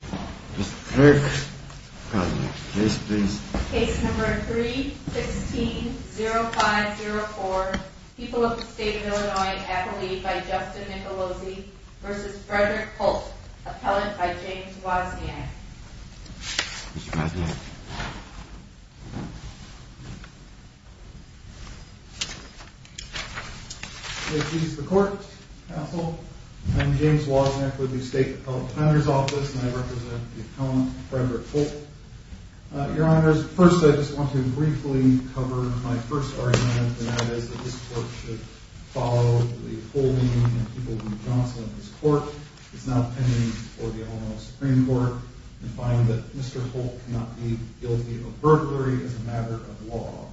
3-16-0504 People of the State of Illinois and Appalachia by Justin Nicolosi v. Frederick Holt, Appellant by James Wozniak James Wozniak, State Appellant, Frederick Holt Your Honors, first I just want to briefly cover my first argument, and that is that this Court should follow the holding of people named Johnson in this Court. It's now pending for the Illinois Supreme Court to find that Mr. Holt cannot be guilty of burglary as a matter of law.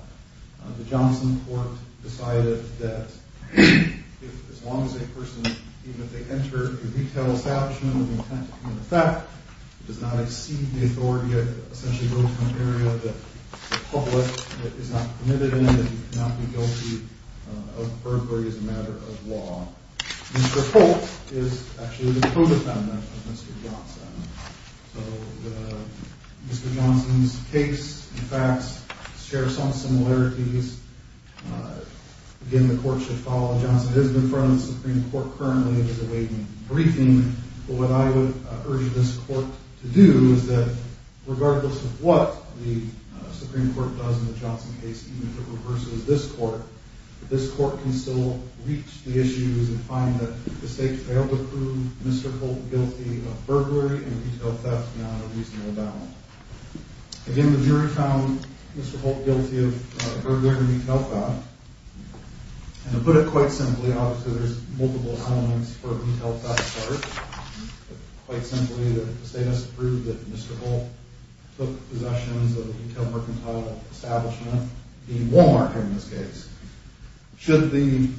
The Johnson Court decided that as long as a person, even if they enter a retail establishment with the intent to commit a theft, does not exceed the authority to essentially go to an area that the public is not permitted in, that he cannot be guilty of burglary as a matter of law. Mr. Holt is actually the co-defendant of Mr. Johnson, so Mr. Johnson's case and facts share some similarities. Again, the Court should follow that Johnson has been fronted by the Supreme Court currently awaiting a briefing. But what I would urge this Court to do is that regardless of what the Supreme Court does in the Johnson case, even if it reverses this Court, this Court can still reach the issues and find that the State failed to prove Mr. Holt guilty of burglary and retail theft beyond a reasonable bound. Again, the jury found Mr. Holt guilty of burglary and retail theft. And to put it quite simply, obviously there's multiple elements for retail theft part, but quite simply the State has to prove that Mr. Holt took possessions of a retail mercantile establishment, a Walmart in this case. Should the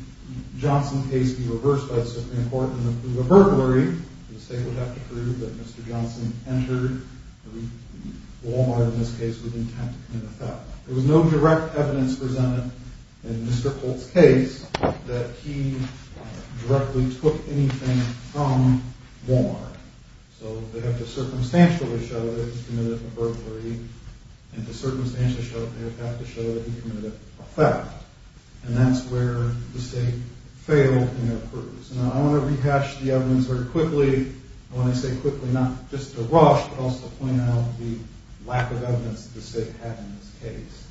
Johnson case be reversed by the Supreme Court and approve a burglary, the State would have to prove that Mr. Johnson entered a Walmart in this case with intent to commit a theft. There was no direct evidence presented in Mr. Holt's case that he directly took anything from Walmart. So they have to circumstantially show that he committed a burglary, and to circumstantially show it they have to show that he committed a theft. And that's where the State failed in their purpose. Now I want to rehash the evidence very quickly. I want to say quickly not just to rush, but also to point out the lack of evidence the State had in this case.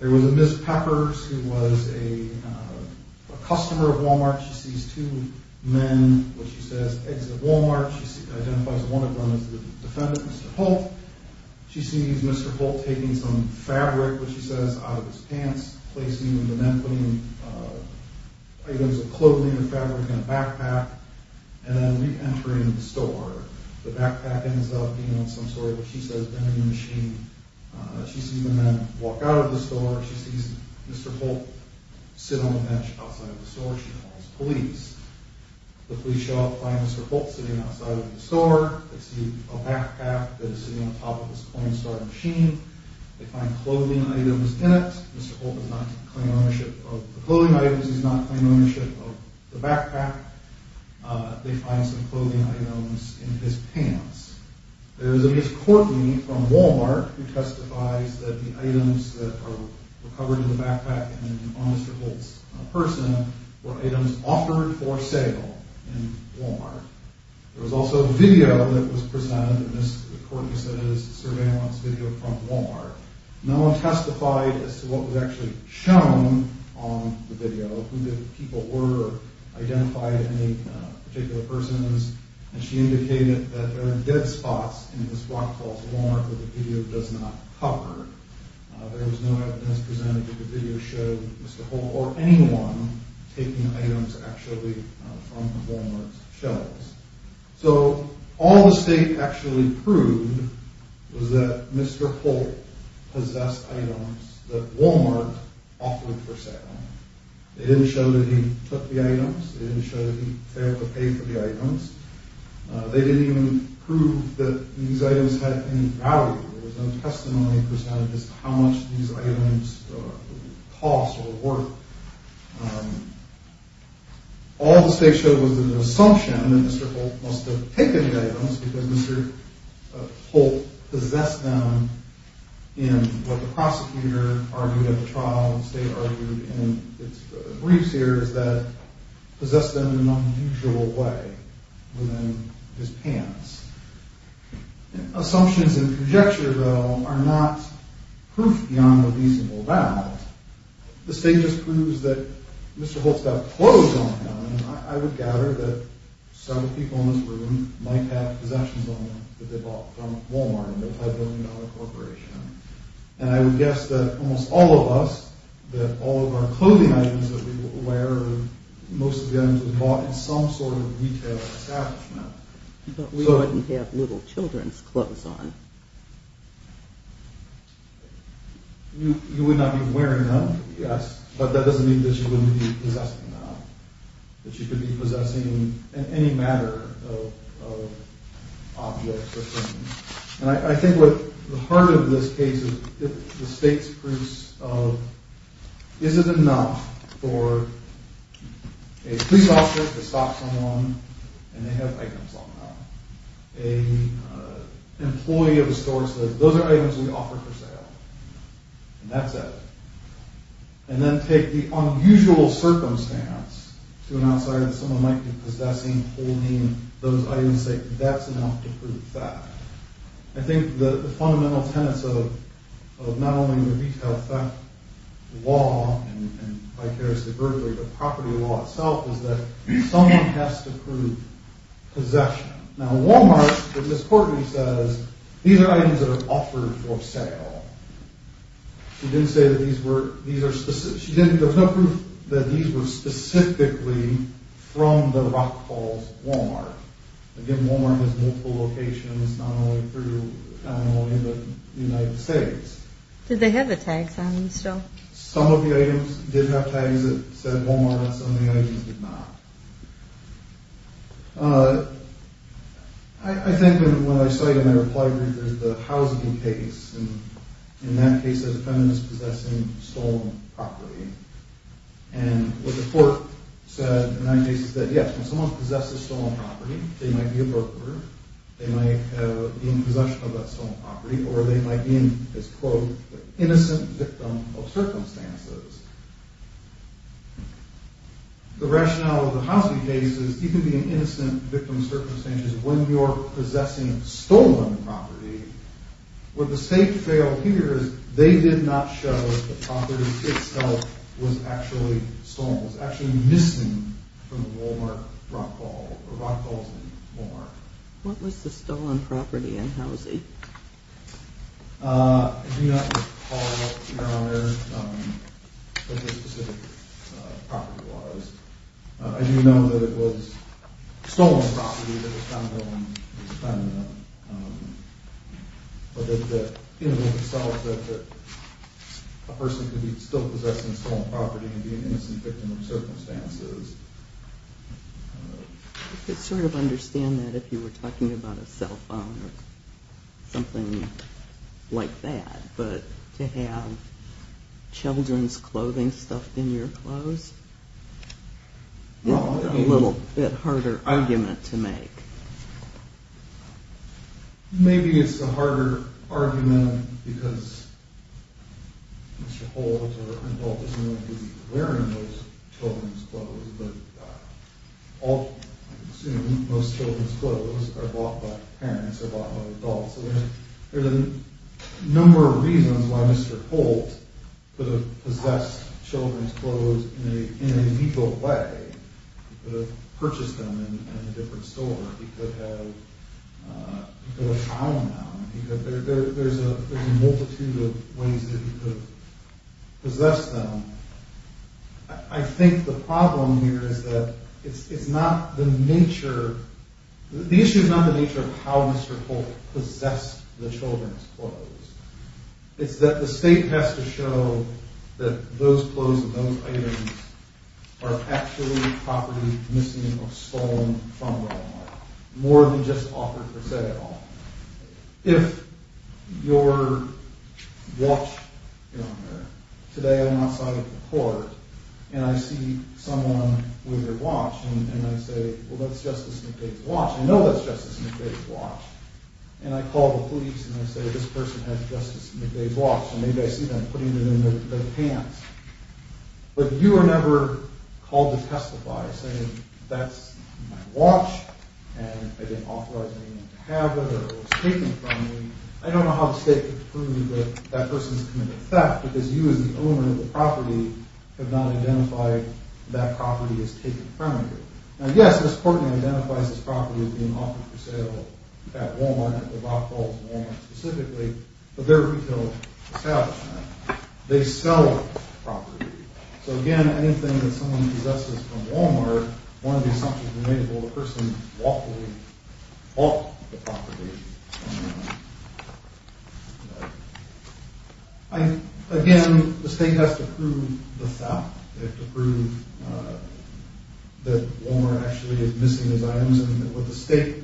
There was a Ms. Peppers who was a customer of Walmart. She sees two men, what she says, exit Walmart. She identifies one of them as the defendant, Mr. Holt. She sees Mr. Holt taking some fabric, what she says, out of his pants, placing the men, putting items of clothing or fabric in a backpack, and then re-entering the store. The backpack ends up being some sort of, what she says, vending machine. She sees the men walk out of the store. She sees Mr. Holt sit on the bench outside of the store. She calls the police. The police show up and find Mr. Holt sitting outside of the store. They see a backpack that is sitting on top of this coin-store machine. They find clothing items in it. Mr. Holt does not claim ownership of the clothing items. He does not claim ownership of the backpack. They find some clothing items in his pants. There is a Ms. Cortney from Walmart who testifies that the items that were covered in the backpack and on Mr. Holt's person were items offered for sale in Walmart. There was also video that was presented. Ms. Cortney said it was surveillance video from Walmart. No one testified as to what was actually shown on the video, who the people were, or identified any particular persons. She indicated that there are dead spots in Ms. Rockfall's Walmart that the video does not cover. There was no evidence presented that the video showed Mr. Holt or anyone taking items actually from Walmart's shelves. All the state actually proved was that Mr. Holt possessed items that Walmart offered for sale. They didn't show that he took the items. They didn't show that he failed to pay for the items. They didn't even prove that these items had any value. There was no testimony presented as to how much these items cost or were worth. All the state showed was an assumption that Mr. Holt must have taken the items because Mr. Holt possessed them in what the prosecutor argued in the trial. The state argued in its brief series that he possessed them in an unusual way within his pants. Assumptions and projections, though, are not proof beyond a reasonable doubt. The state just proves that Mr. Holt's got clothes on him. I would gather that several people in this room might have possessions on them that they bought from Walmart, a multi-billion dollar corporation. And I would guess that almost all of us, that all of our clothing items that we wear, most of the items were bought in some sort of retail establishment. But we wouldn't have little children's clothes on. You would not be wearing them, yes, but that doesn't mean that you wouldn't be possessing them. That you could be possessing any matter of objects or things. And I think what the heart of this case is the state's proofs of is it enough for a police officer to stop someone and they have items on them? A employee of a store says, those are items we offer for sale, and that's it. And then take the unusual circumstance to an outsider that someone might be possessing, holding those items, and say, that's enough to prove theft. I think the fundamental tenets of not only the retail theft law and vicariously burglary, but property law itself is that someone has to prove possession. Now Walmart, as Ms. Courtney says, these are items that are offered for sale. She didn't say that these were, there's no proof that these were specifically from the Rock Falls Walmart. Again, Walmart has multiple locations, not only in the United States. Did they have the tags on them still? Some of the items did have tags that said Walmart and some of the items did not. I think when I saw you in the reply group, there's the Housable case, and in that case there's a feminist possessing stolen property. And what the court said in that case is that, yes, when someone possesses stolen property, they might be a broker. They might be in possession of that stolen property, or they might be an, quote, innocent victim of circumstances. The rationale of the Housable case is you can be an innocent victim of circumstances when you're possessing stolen property. What the state failed here is they did not show that the property itself was actually stolen. It was actually missing from the Walmart Rock Falls, or Rock Falls and Walmart. What was the stolen property in Housie? I do not recall, Your Honor, what the specific property was. I do know that it was stolen property that was found on Ms. Femina. But that, in and of itself, that a person could be still possessing stolen property and be an innocent victim of circumstances. I could sort of understand that if you were talking about a cell phone or something like that. But to have children's clothing stuffed in your clothes is a little bit harder argument to make. Maybe it's a harder argument because Mr. Holt or an adult is not going to be wearing those children's clothes. But I assume most children's clothes are bought by parents or bought by adults. So there's a number of reasons why Mr. Holt could have possessed children's clothes in a legal way. He could have purchased them in a different store. He could have found them. There's a multitude of ways that he could have possessed them. I think the problem here is that it's not the nature... The issue is not the nature of how Mr. Holt possessed the children's clothes. It's that the state has to show that those clothes and those items are actually property missing or stolen from the homeowner. More than just offered for sale. If your watch... Today I'm outside of the court and I see someone with their watch and I say, Well, that's Justice McVeigh's watch. I know that's Justice McVeigh's watch. And I call the police and I say, This person has Justice McVeigh's watch. And maybe I see them putting it in their pants. But you are never called to testify saying that's my watch and I didn't authorize anyone to have it or it was taken from me. I don't know how the state can prove that that person has committed theft because you as the owner of the property have not identified that property as taken from you. Now, yes, this court identifies this property as being offered for sale at Wal-Mart, at the Rockwell's in Wal-Mart specifically, but they're a retail establishment. They sell the property. So again, anything that someone possesses from Wal-Mart, one of the assumptions made is that the person bought the property. Again, the state has to prove the theft. They have to prove that Wal-Mart actually is missing its items. And what the state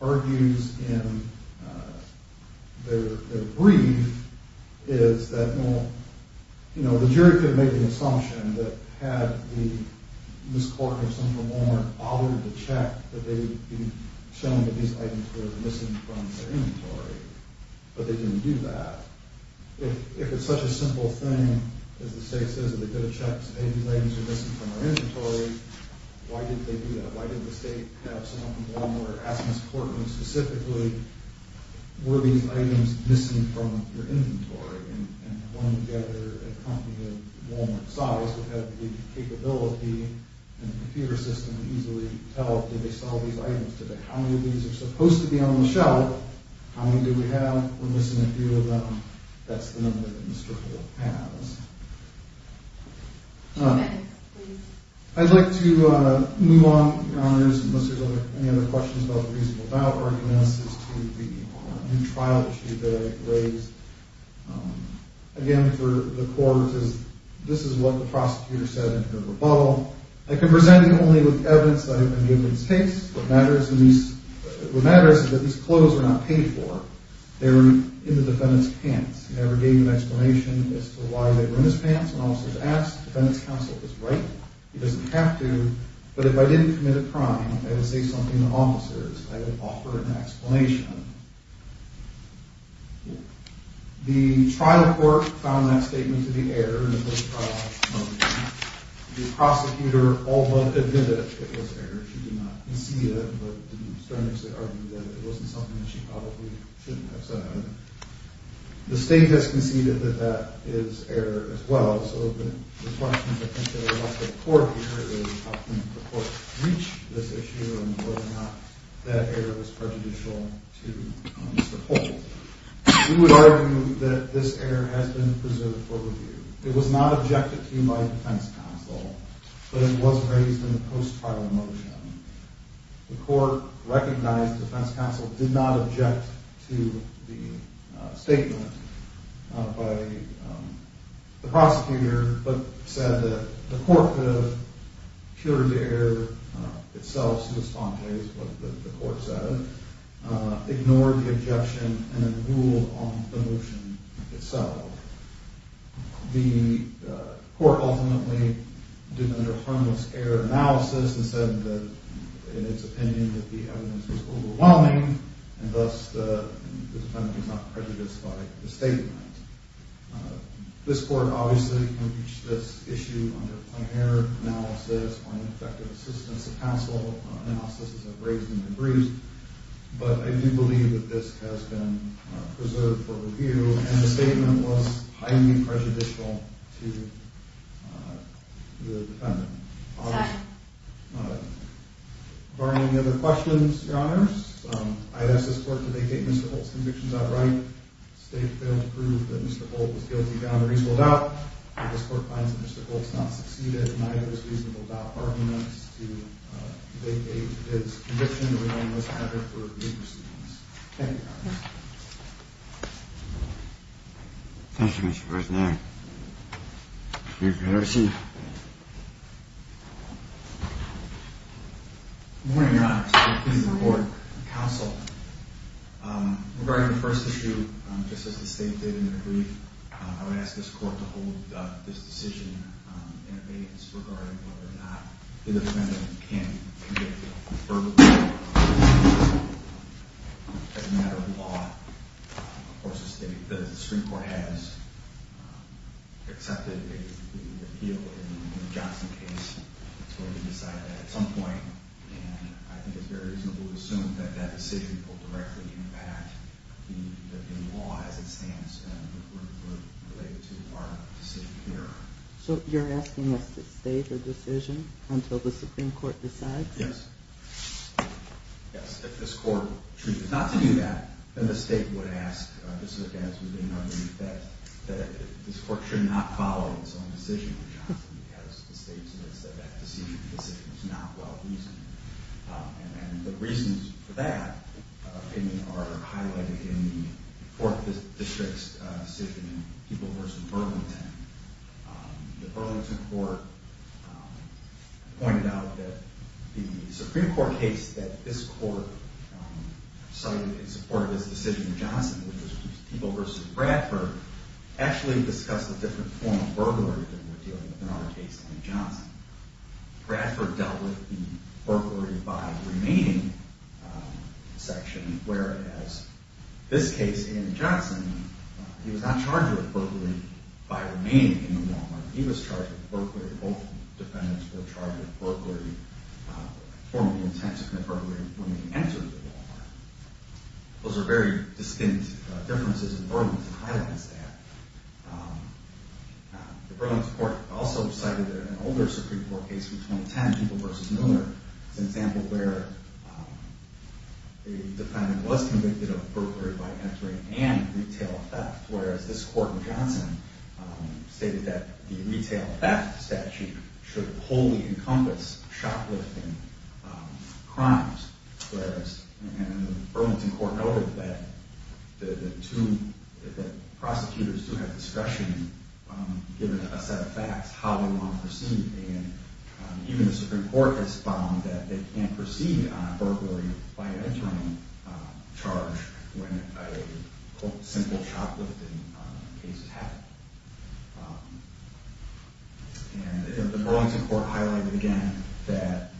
argues in their brief is that, well, you know, the jury could have made the assumption that had the Miss Corker of Central Wal-Mart bothered to check that they'd be shown that these items were missing from their inventory. But they didn't do that. If it's such a simple thing as the state says that they could have checked, hey, these items are missing from our inventory, why didn't they do that? Why didn't the state have someone from Wal-Mart ask Miss Corker specifically, were these items missing from your inventory? And pulling together a company of Wal-Mart size would have the capability and the computer system to easily tell, did they sell these items today? How many of these are supposed to be on the shelf? How many do we have? We're missing a few of them. That's the number that Miss Corker has. All right. I'd like to move on, Your Honors, unless there's any other questions about the reasonable doubt argument. This is to the new trial issue that I raised. Again, for the court, this is what the prosecutor said in her rebuttal. I can present it only with evidence that I've been given since. What matters is that these clothes were not paid for. They were in the defendant's pants. He never gave an explanation as to why they were in his pants. When officers asked, the defendant's counsel was right. He doesn't have to. But if I didn't commit a crime, I would say something to officers. I would offer an explanation. The trial court found that statement to be error in the first trial motion. The prosecutor, although admitted it was error, she did not concede it. But didn't sternly argue that it wasn't something that she probably shouldn't have said. The state has conceded that that is error as well. So the question potentially about the court here is how can the court reach this issue and whether or not that error was prejudicial to Mr. Holt. We would argue that this error has been preserved for review. It was not objected to by defense counsel, but it was raised in the post-trial motion. The court recognized defense counsel did not object to the statement by the prosecutor, but said that the court could have cured the error itself, so the sponte is what the court said, ignored the objection, and then ruled on the motion itself. The court ultimately did another harmless error analysis and said that in its opinion that the evidence was overwhelming, and thus the defendant was not prejudiced by the statement. This court obviously can reach this issue under a prior analysis or an effective assistance of counsel analysis as I've raised in my briefs, but I do believe that this has been preserved for review, and the statement was highly prejudicial to the defendant. Are there any other questions, Your Honors? I ask this court to make statements that hold convictions outright. The state failed to prove that Mr. Holt was guilty without a reasonable doubt. This court finds that Mr. Holt has not succeeded in either of his reasonable doubt arguments to vacate his conviction or the harmless error for review proceedings. Thank you, Your Honors. Thank you, Mr. President. Good morning, Your Honors. Counsel, regarding the first issue, just as the state did in their brief, I would ask this court to hold this decision in abeyance regarding whether or not the defendant can convict the defendant verbally as a matter of law. Of course, the Supreme Court has accepted the appeal in the Johnson case. It's going to decide that at some point, and I think it's very reasonable to assume that that decision will directly impact the law as it stands and would relate it to our decision here. So you're asking us to stay the decision until the Supreme Court decides? Yes. Yes, if this court chooses not to do that, then the state would ask this defense within our brief that this court should not follow its own decision in the Johnson case because the state says that that decision is not well-reasoned. And the reasons for that opinion are highlighted in the Fourth District's decision in Peeble v. Burlington. The Burlington court pointed out that the Supreme Court case that this court cited in support of this decision in Johnson, which was Peeble v. Bradford, actually discussed a different form of burglary than we're dealing with in our case in Johnson. Bradford dealt with the burglary by remaining in the section, whereas this case in Johnson, he was not charged with burglary by remaining in the Walmart. He was charged with burglary. Both defendants were charged with burglary, formerly intent to commit burglary, when they entered the Walmart. Those are very distinct differences, and Burlington highlights that. The Burlington court also cited an older Supreme Court case in 2010, Peeble v. Mueller, as an example where a defendant was convicted of burglary by entering and retail theft, whereas this court in Johnson stated that the retail theft statute should wholly encompass shoplifting crimes, whereas the Burlington court noted that prosecutors do have discretion given a set of facts how they want to proceed, and even the Supreme Court has found that they can't proceed on a burglary by entering charge when a simple shoplifting case has happened. And the Burlington court highlighted again that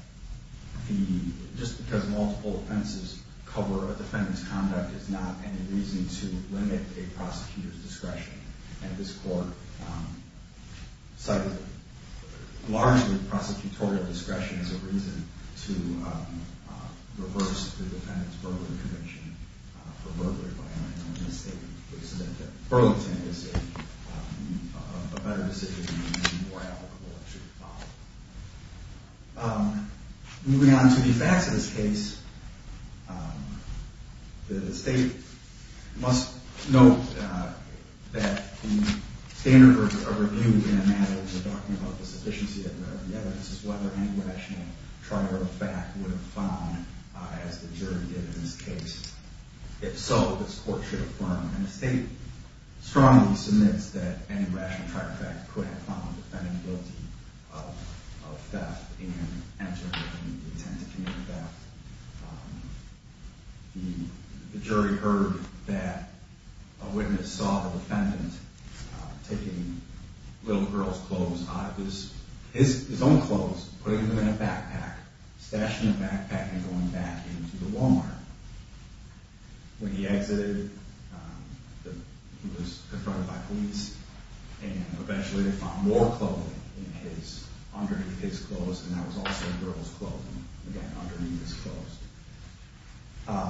just because multiple offenses cover a defendant's conduct is not any reason to limit a prosecutor's discretion, and this court cited largely prosecutorial discretion as a reason to reverse the defendant's burglary conviction for burglary by entering on a misstatement. Burlington is a better decision and more applicable. Moving on to the facts of this case, the state must note that the standard of review in a matter of talking about the sufficiency of the evidence is whether any rational trial of fact would have found, as the jury did in this case, if so, this court should affirm. And the state strongly submits that any rational trial of fact could have found the defendant guilty of theft and entering and attempting to commit theft. The jury heard that a witness saw the defendant taking little girls' clothes out of his own clothes, putting them in a backpack, stashing the backpack, and going back into the Walmart. When he exited, he was confronted by police, and eventually they found more clothing underneath his clothes, and that was also girls' clothing, again, underneath his clothes.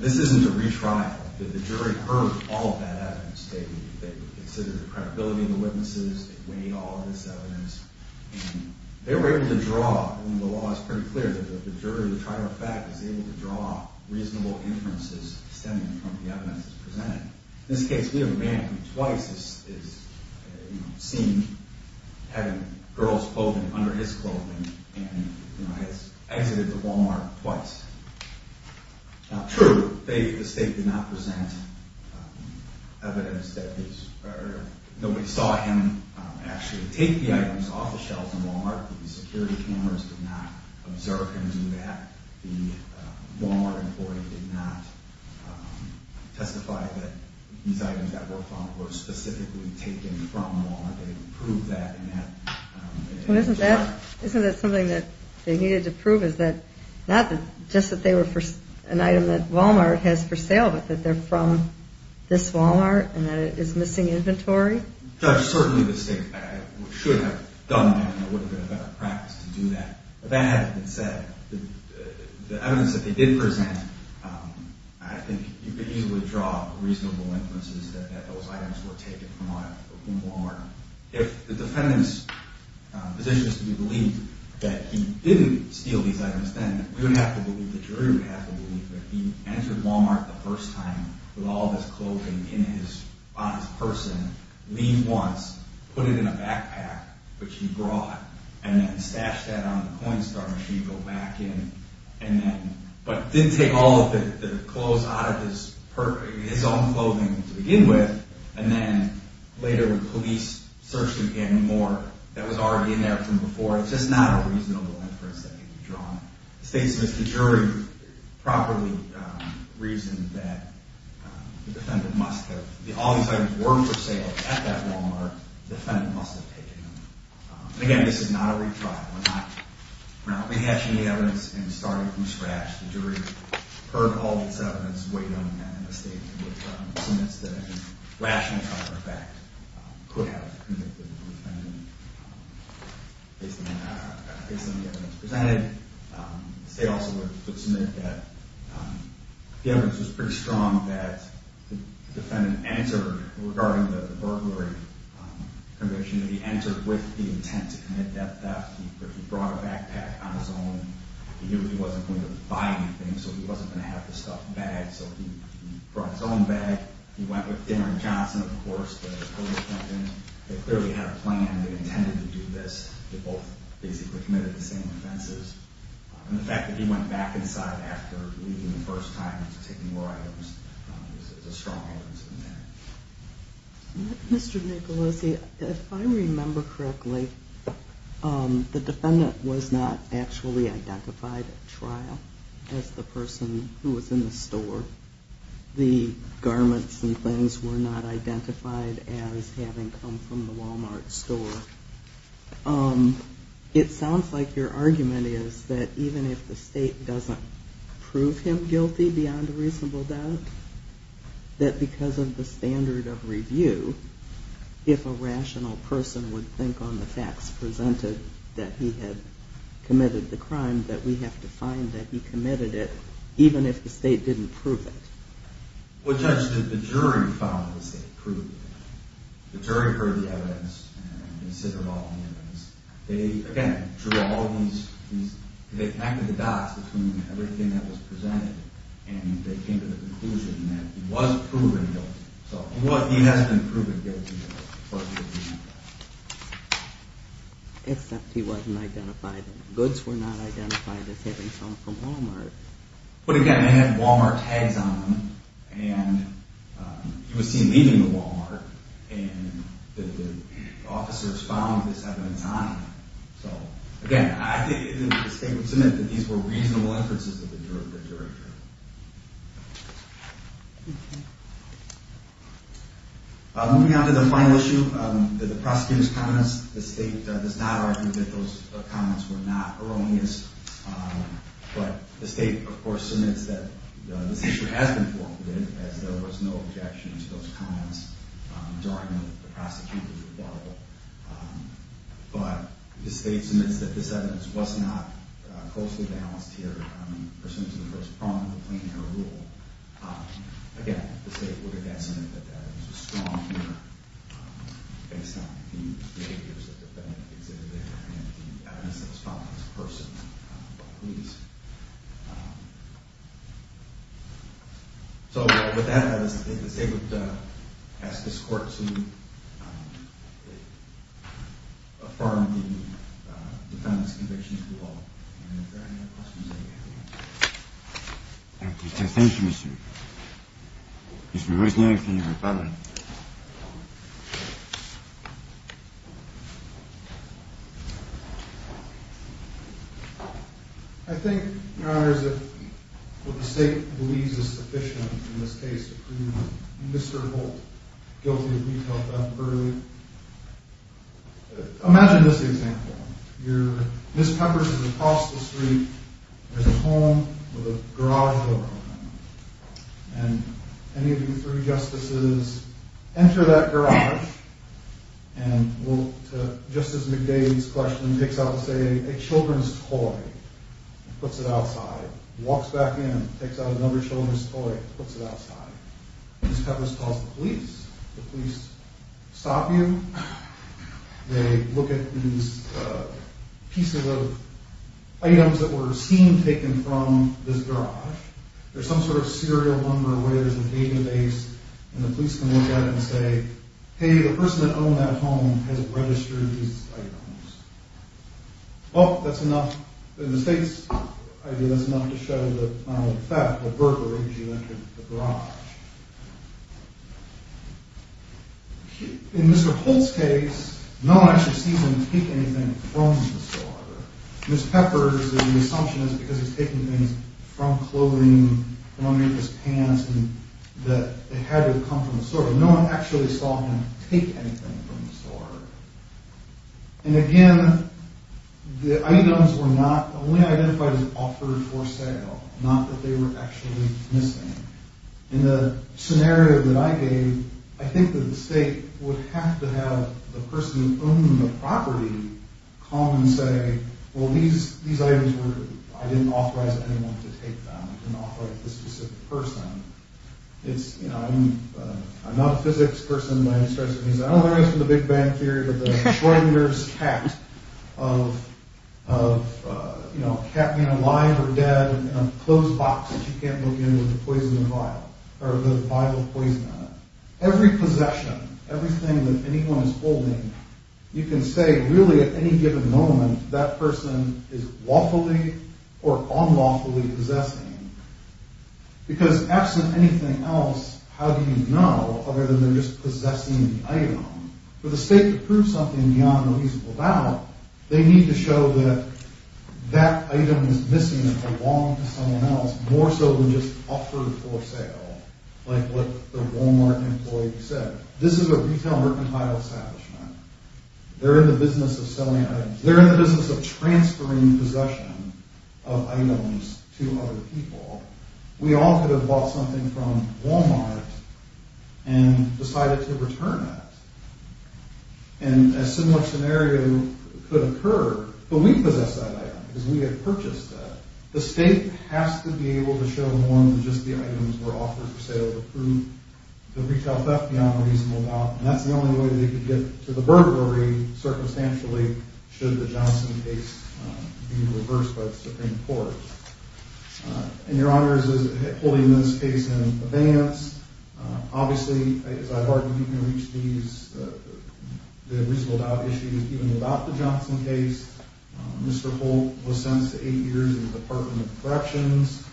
This isn't a retrial. The jury heard all of that evidence. They considered the credibility of the witnesses, they weighed all of this evidence, and they were able to draw, and the law is pretty clear that the jury, the trial of fact, is able to draw reasonable inferences stemming from the evidence presented. In this case, we have a man who twice is seen having girls' clothing under his clothing, and has exited the Walmart twice. True, the state did not present evidence that nobody saw him actually take the items off the shelves in Walmart. The security cameras did not observe him do that. The Walmart employee did not testify that these items that were found were specifically taken from Walmart. They proved that in that trial. Isn't that something that they needed to prove, is that not just that they were an item that Walmart has for sale, but that they're from this Walmart, and that it is missing inventory? Judge, certainly the state should have done that, and there would have been a better practice to do that. If that hadn't been said, the evidence that they did present, I think you could easily draw reasonable inferences that those items were taken from Walmart. If the defendant's position is to be believed that he didn't steal these items then, we would have to believe, the jury would have to believe, that he entered Walmart the first time with all of his clothing on his person, leave once, put it in a backpack, which he brought, and then stashed that on the CoinStar machine, go back in, but didn't take all of the clothes out of his own clothing to begin with, and then later when police searched him again more, that was already in there from before. It's just not a reasonable inference that could be drawn. The state says the jury properly reasoned that the defendant must have, all these items were for sale at that Walmart, the defendant must have taken them. Again, this is not a retrial. We're not rehashing the evidence and starting from scratch. The jury heard all of this evidence, weighed on that, and the state submits the rationale for the fact, could have convicted the defendant based on the evidence presented. The state also would submit that the evidence was pretty strong that the defendant entered, regarding the burglary conviction, that he entered with the intent to commit that theft, that he brought a backpack on his own, he wasn't going to buy anything, so he wasn't going to have the stuffed bag, so he brought his own bag. He went with Darren Johnson, of course, the police defendant. They clearly had a plan, they intended to do this. They both basically committed the same offenses, and the fact that he went back inside after leaving the first time and taking more items is a strong evidence of intent. Mr. Nicolosi, if I remember correctly, the defendant was not actually identified at trial as the person who was in the store. The garments and things were not identified as having come from the Walmart store. It sounds like your argument is that even if the state doesn't prove him guilty beyond a reasonable doubt, that because of the standard of review, if a rational person would think on the facts presented that he had committed the crime, that we have to find that he committed it even if the state didn't prove it. Well, Judge, the jury found that the state proved it. The jury heard the evidence and considered all the evidence. They, again, drew all these – they connected the dots between everything that was presented and they came to the conclusion that he was proven guilty. So he has been proven guilty. Except he wasn't identified. The goods were not identified as having come from Walmart. But, again, they had Walmart tags on them, and he was seen leaving the Walmart, and the officers found this evidence on him. So, again, I think the state would submit that these were reasonable inferences that the jury heard. Moving on to the final issue, the prosecutor's comments. The state does not argue that those comments were not erroneous, but the state, of course, submits that this issue has been formulated, as there was no objection to those comments during the prosecutor's rebuttal. But the state submits that this evidence was not closely balanced here, pursuant to the first prong of the plain error rule. Again, the state would, again, submit that that is a strong error based on the behaviors of the defendant exhibited there and the evidence that was found on this person by police. So, with that, I think the state would ask this court to affirm the defendant's conviction to the law, and if there are any other questions that you have. Thank you, Mr. Rosenberg, for your comment. I think, Your Honor, that what the state believes is sufficient in this case to prove Mr. Holt guilty of retail theft burglary. Imagine this example. Ms. Peppers is across the street. There's a home with a garage door on it. And any of you three justices enter that garage, and Justice McDade's question takes out, say, a children's toy, puts it outside, walks back in, takes out another children's toy, puts it outside. Ms. Peppers calls the police. The police stop you. They look at these pieces of items that were seen taken from this garage. There's some sort of serial number where there's a database, and the police can look at it and say, hey, the person that owned that home has registered these items. Well, that's enough. In the state's idea, that's enough to show the violent theft, the burglary, as you enter the garage. In Mr. Holt's case, no one actually sees him take anything from the store. Ms. Peppers, the assumption is because he's taking things from clothing, from his pants, that they had to come from the store. No one actually saw him take anything from the store. And again, the items were not only identified as offered for sale, not that they were actually missing. In the scenario that I gave, I think that the state would have to have the person who owned the property come and say, well, these items were, I didn't authorize anyone to take them. I didn't authorize this specific person. It's, you know, I'm not a physics person, but I don't know the rest of the big bang theory of the Schrodinger's cat, of, you know, a cat being alive or dead in a closed box that you can't look in with a poison vial, or the vial of poison in it. Every possession, everything that anyone is holding, you can say really at any given moment that person is lawfully or unlawfully possessing. Because absent anything else, how do you know other than they're just possessing the item? For the state to prove something beyond a reasonable doubt, they need to show that that item is missing along with someone else, more so than just offered for sale, like what the Walmart employee said. This is a retail mercantile establishment. They're in the business of selling items. They're in the business of transferring possession of items to other people. We all could have bought something from Walmart and decided to return it. And a similar scenario could occur, but we possess that item because we have purchased it. The state has to be able to show more than just the items were offered for sale to prove the retail theft beyond a reasonable doubt, and that's the only way they could get to the burglary circumstantially should the Johnson case be reversed by the Supreme Court. And Your Honors is holding this case in abeyance. Obviously, as I've argued, you can reach these reasonable doubt issues even without the Johnson case. Mr. Holt was sentenced to eight years in the Department of Corrections,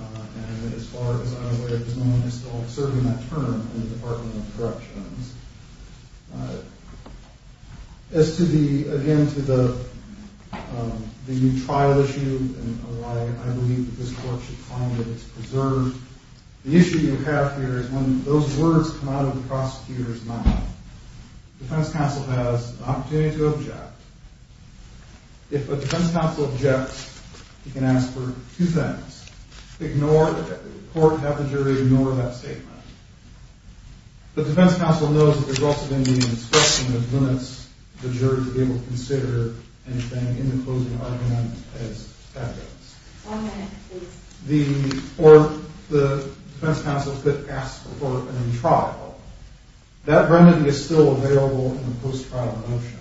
and as far as I'm aware, there's no one else serving that term in the Department of Corrections. As to the, again, to the new trial issue and why I believe that this court should find that it's preserved, the issue you have here is when those words come out of the prosecutor's mouth, the defense counsel has the opportunity to object. If a defense counsel objects, you can ask for two things. Ignore the court, have the jury ignore that statement. The defense counsel knows that there's also been the inspection that limits the jury to be able to consider anything in the closing argument as evidence. One minute, please. Or the defense counsel could ask for a new trial. That remedy is still available in the post-trial motion.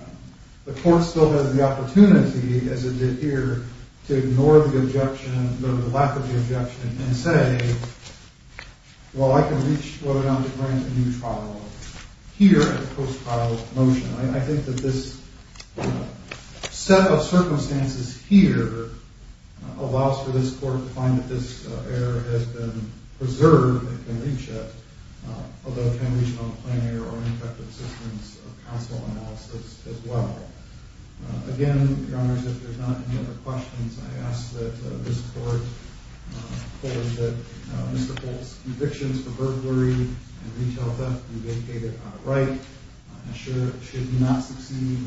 The court still has the opportunity, as it did here, to ignore the objection or the lack of the objection and say, well, I can reach whether or not to grant a new trial here in the post-trial motion. I think that this set of circumstances here allows for this court to find that this error has been preserved and can reach it, although it can reach it on a plenary or an effective assistance of counsel analysis as well. Again, Your Honors, if there's not any other questions, I ask that this court forward that Mr. Polk's convictions for burglary and retail theft be vacated outright, ensure it should not succeed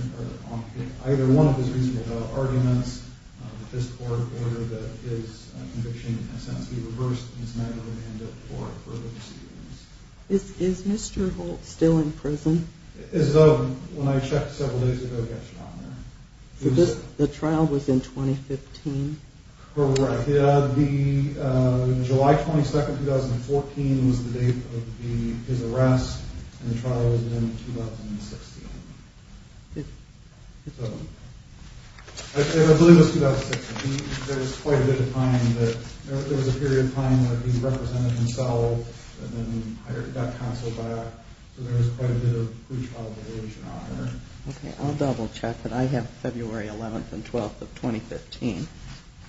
on either one of his reasonable arguments, that this court order that his conviction has sensed be reversed and it's not going to end up for further proceedings. Is Mr. Polk still in prison? As of when I checked several days ago, yes, Your Honor. The trial was in 2015? Correct. The July 22nd, 2014, was the date of his arrest, and the trial was in 2016. I believe it was 2016. There was quite a bit of time, there was a period of time where he represented himself, and then he got counseled back, so there was quite a bit of breach of obligation on him. Okay, I'll double check, but I have February 11th and 12th of 2015.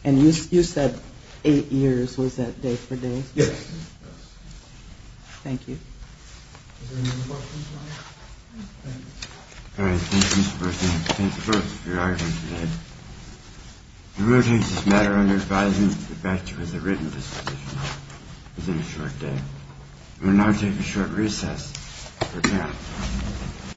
And you said eight years, was that day for day? Yes. Thank you. Is there any more questions, Your Honor? No. All right, thank you, Mr. Berkley. Thank the both of you for your argument today. We will take this matter under advisement to the effect it was a written disposition. It was in a short day. Good day, Your Honor.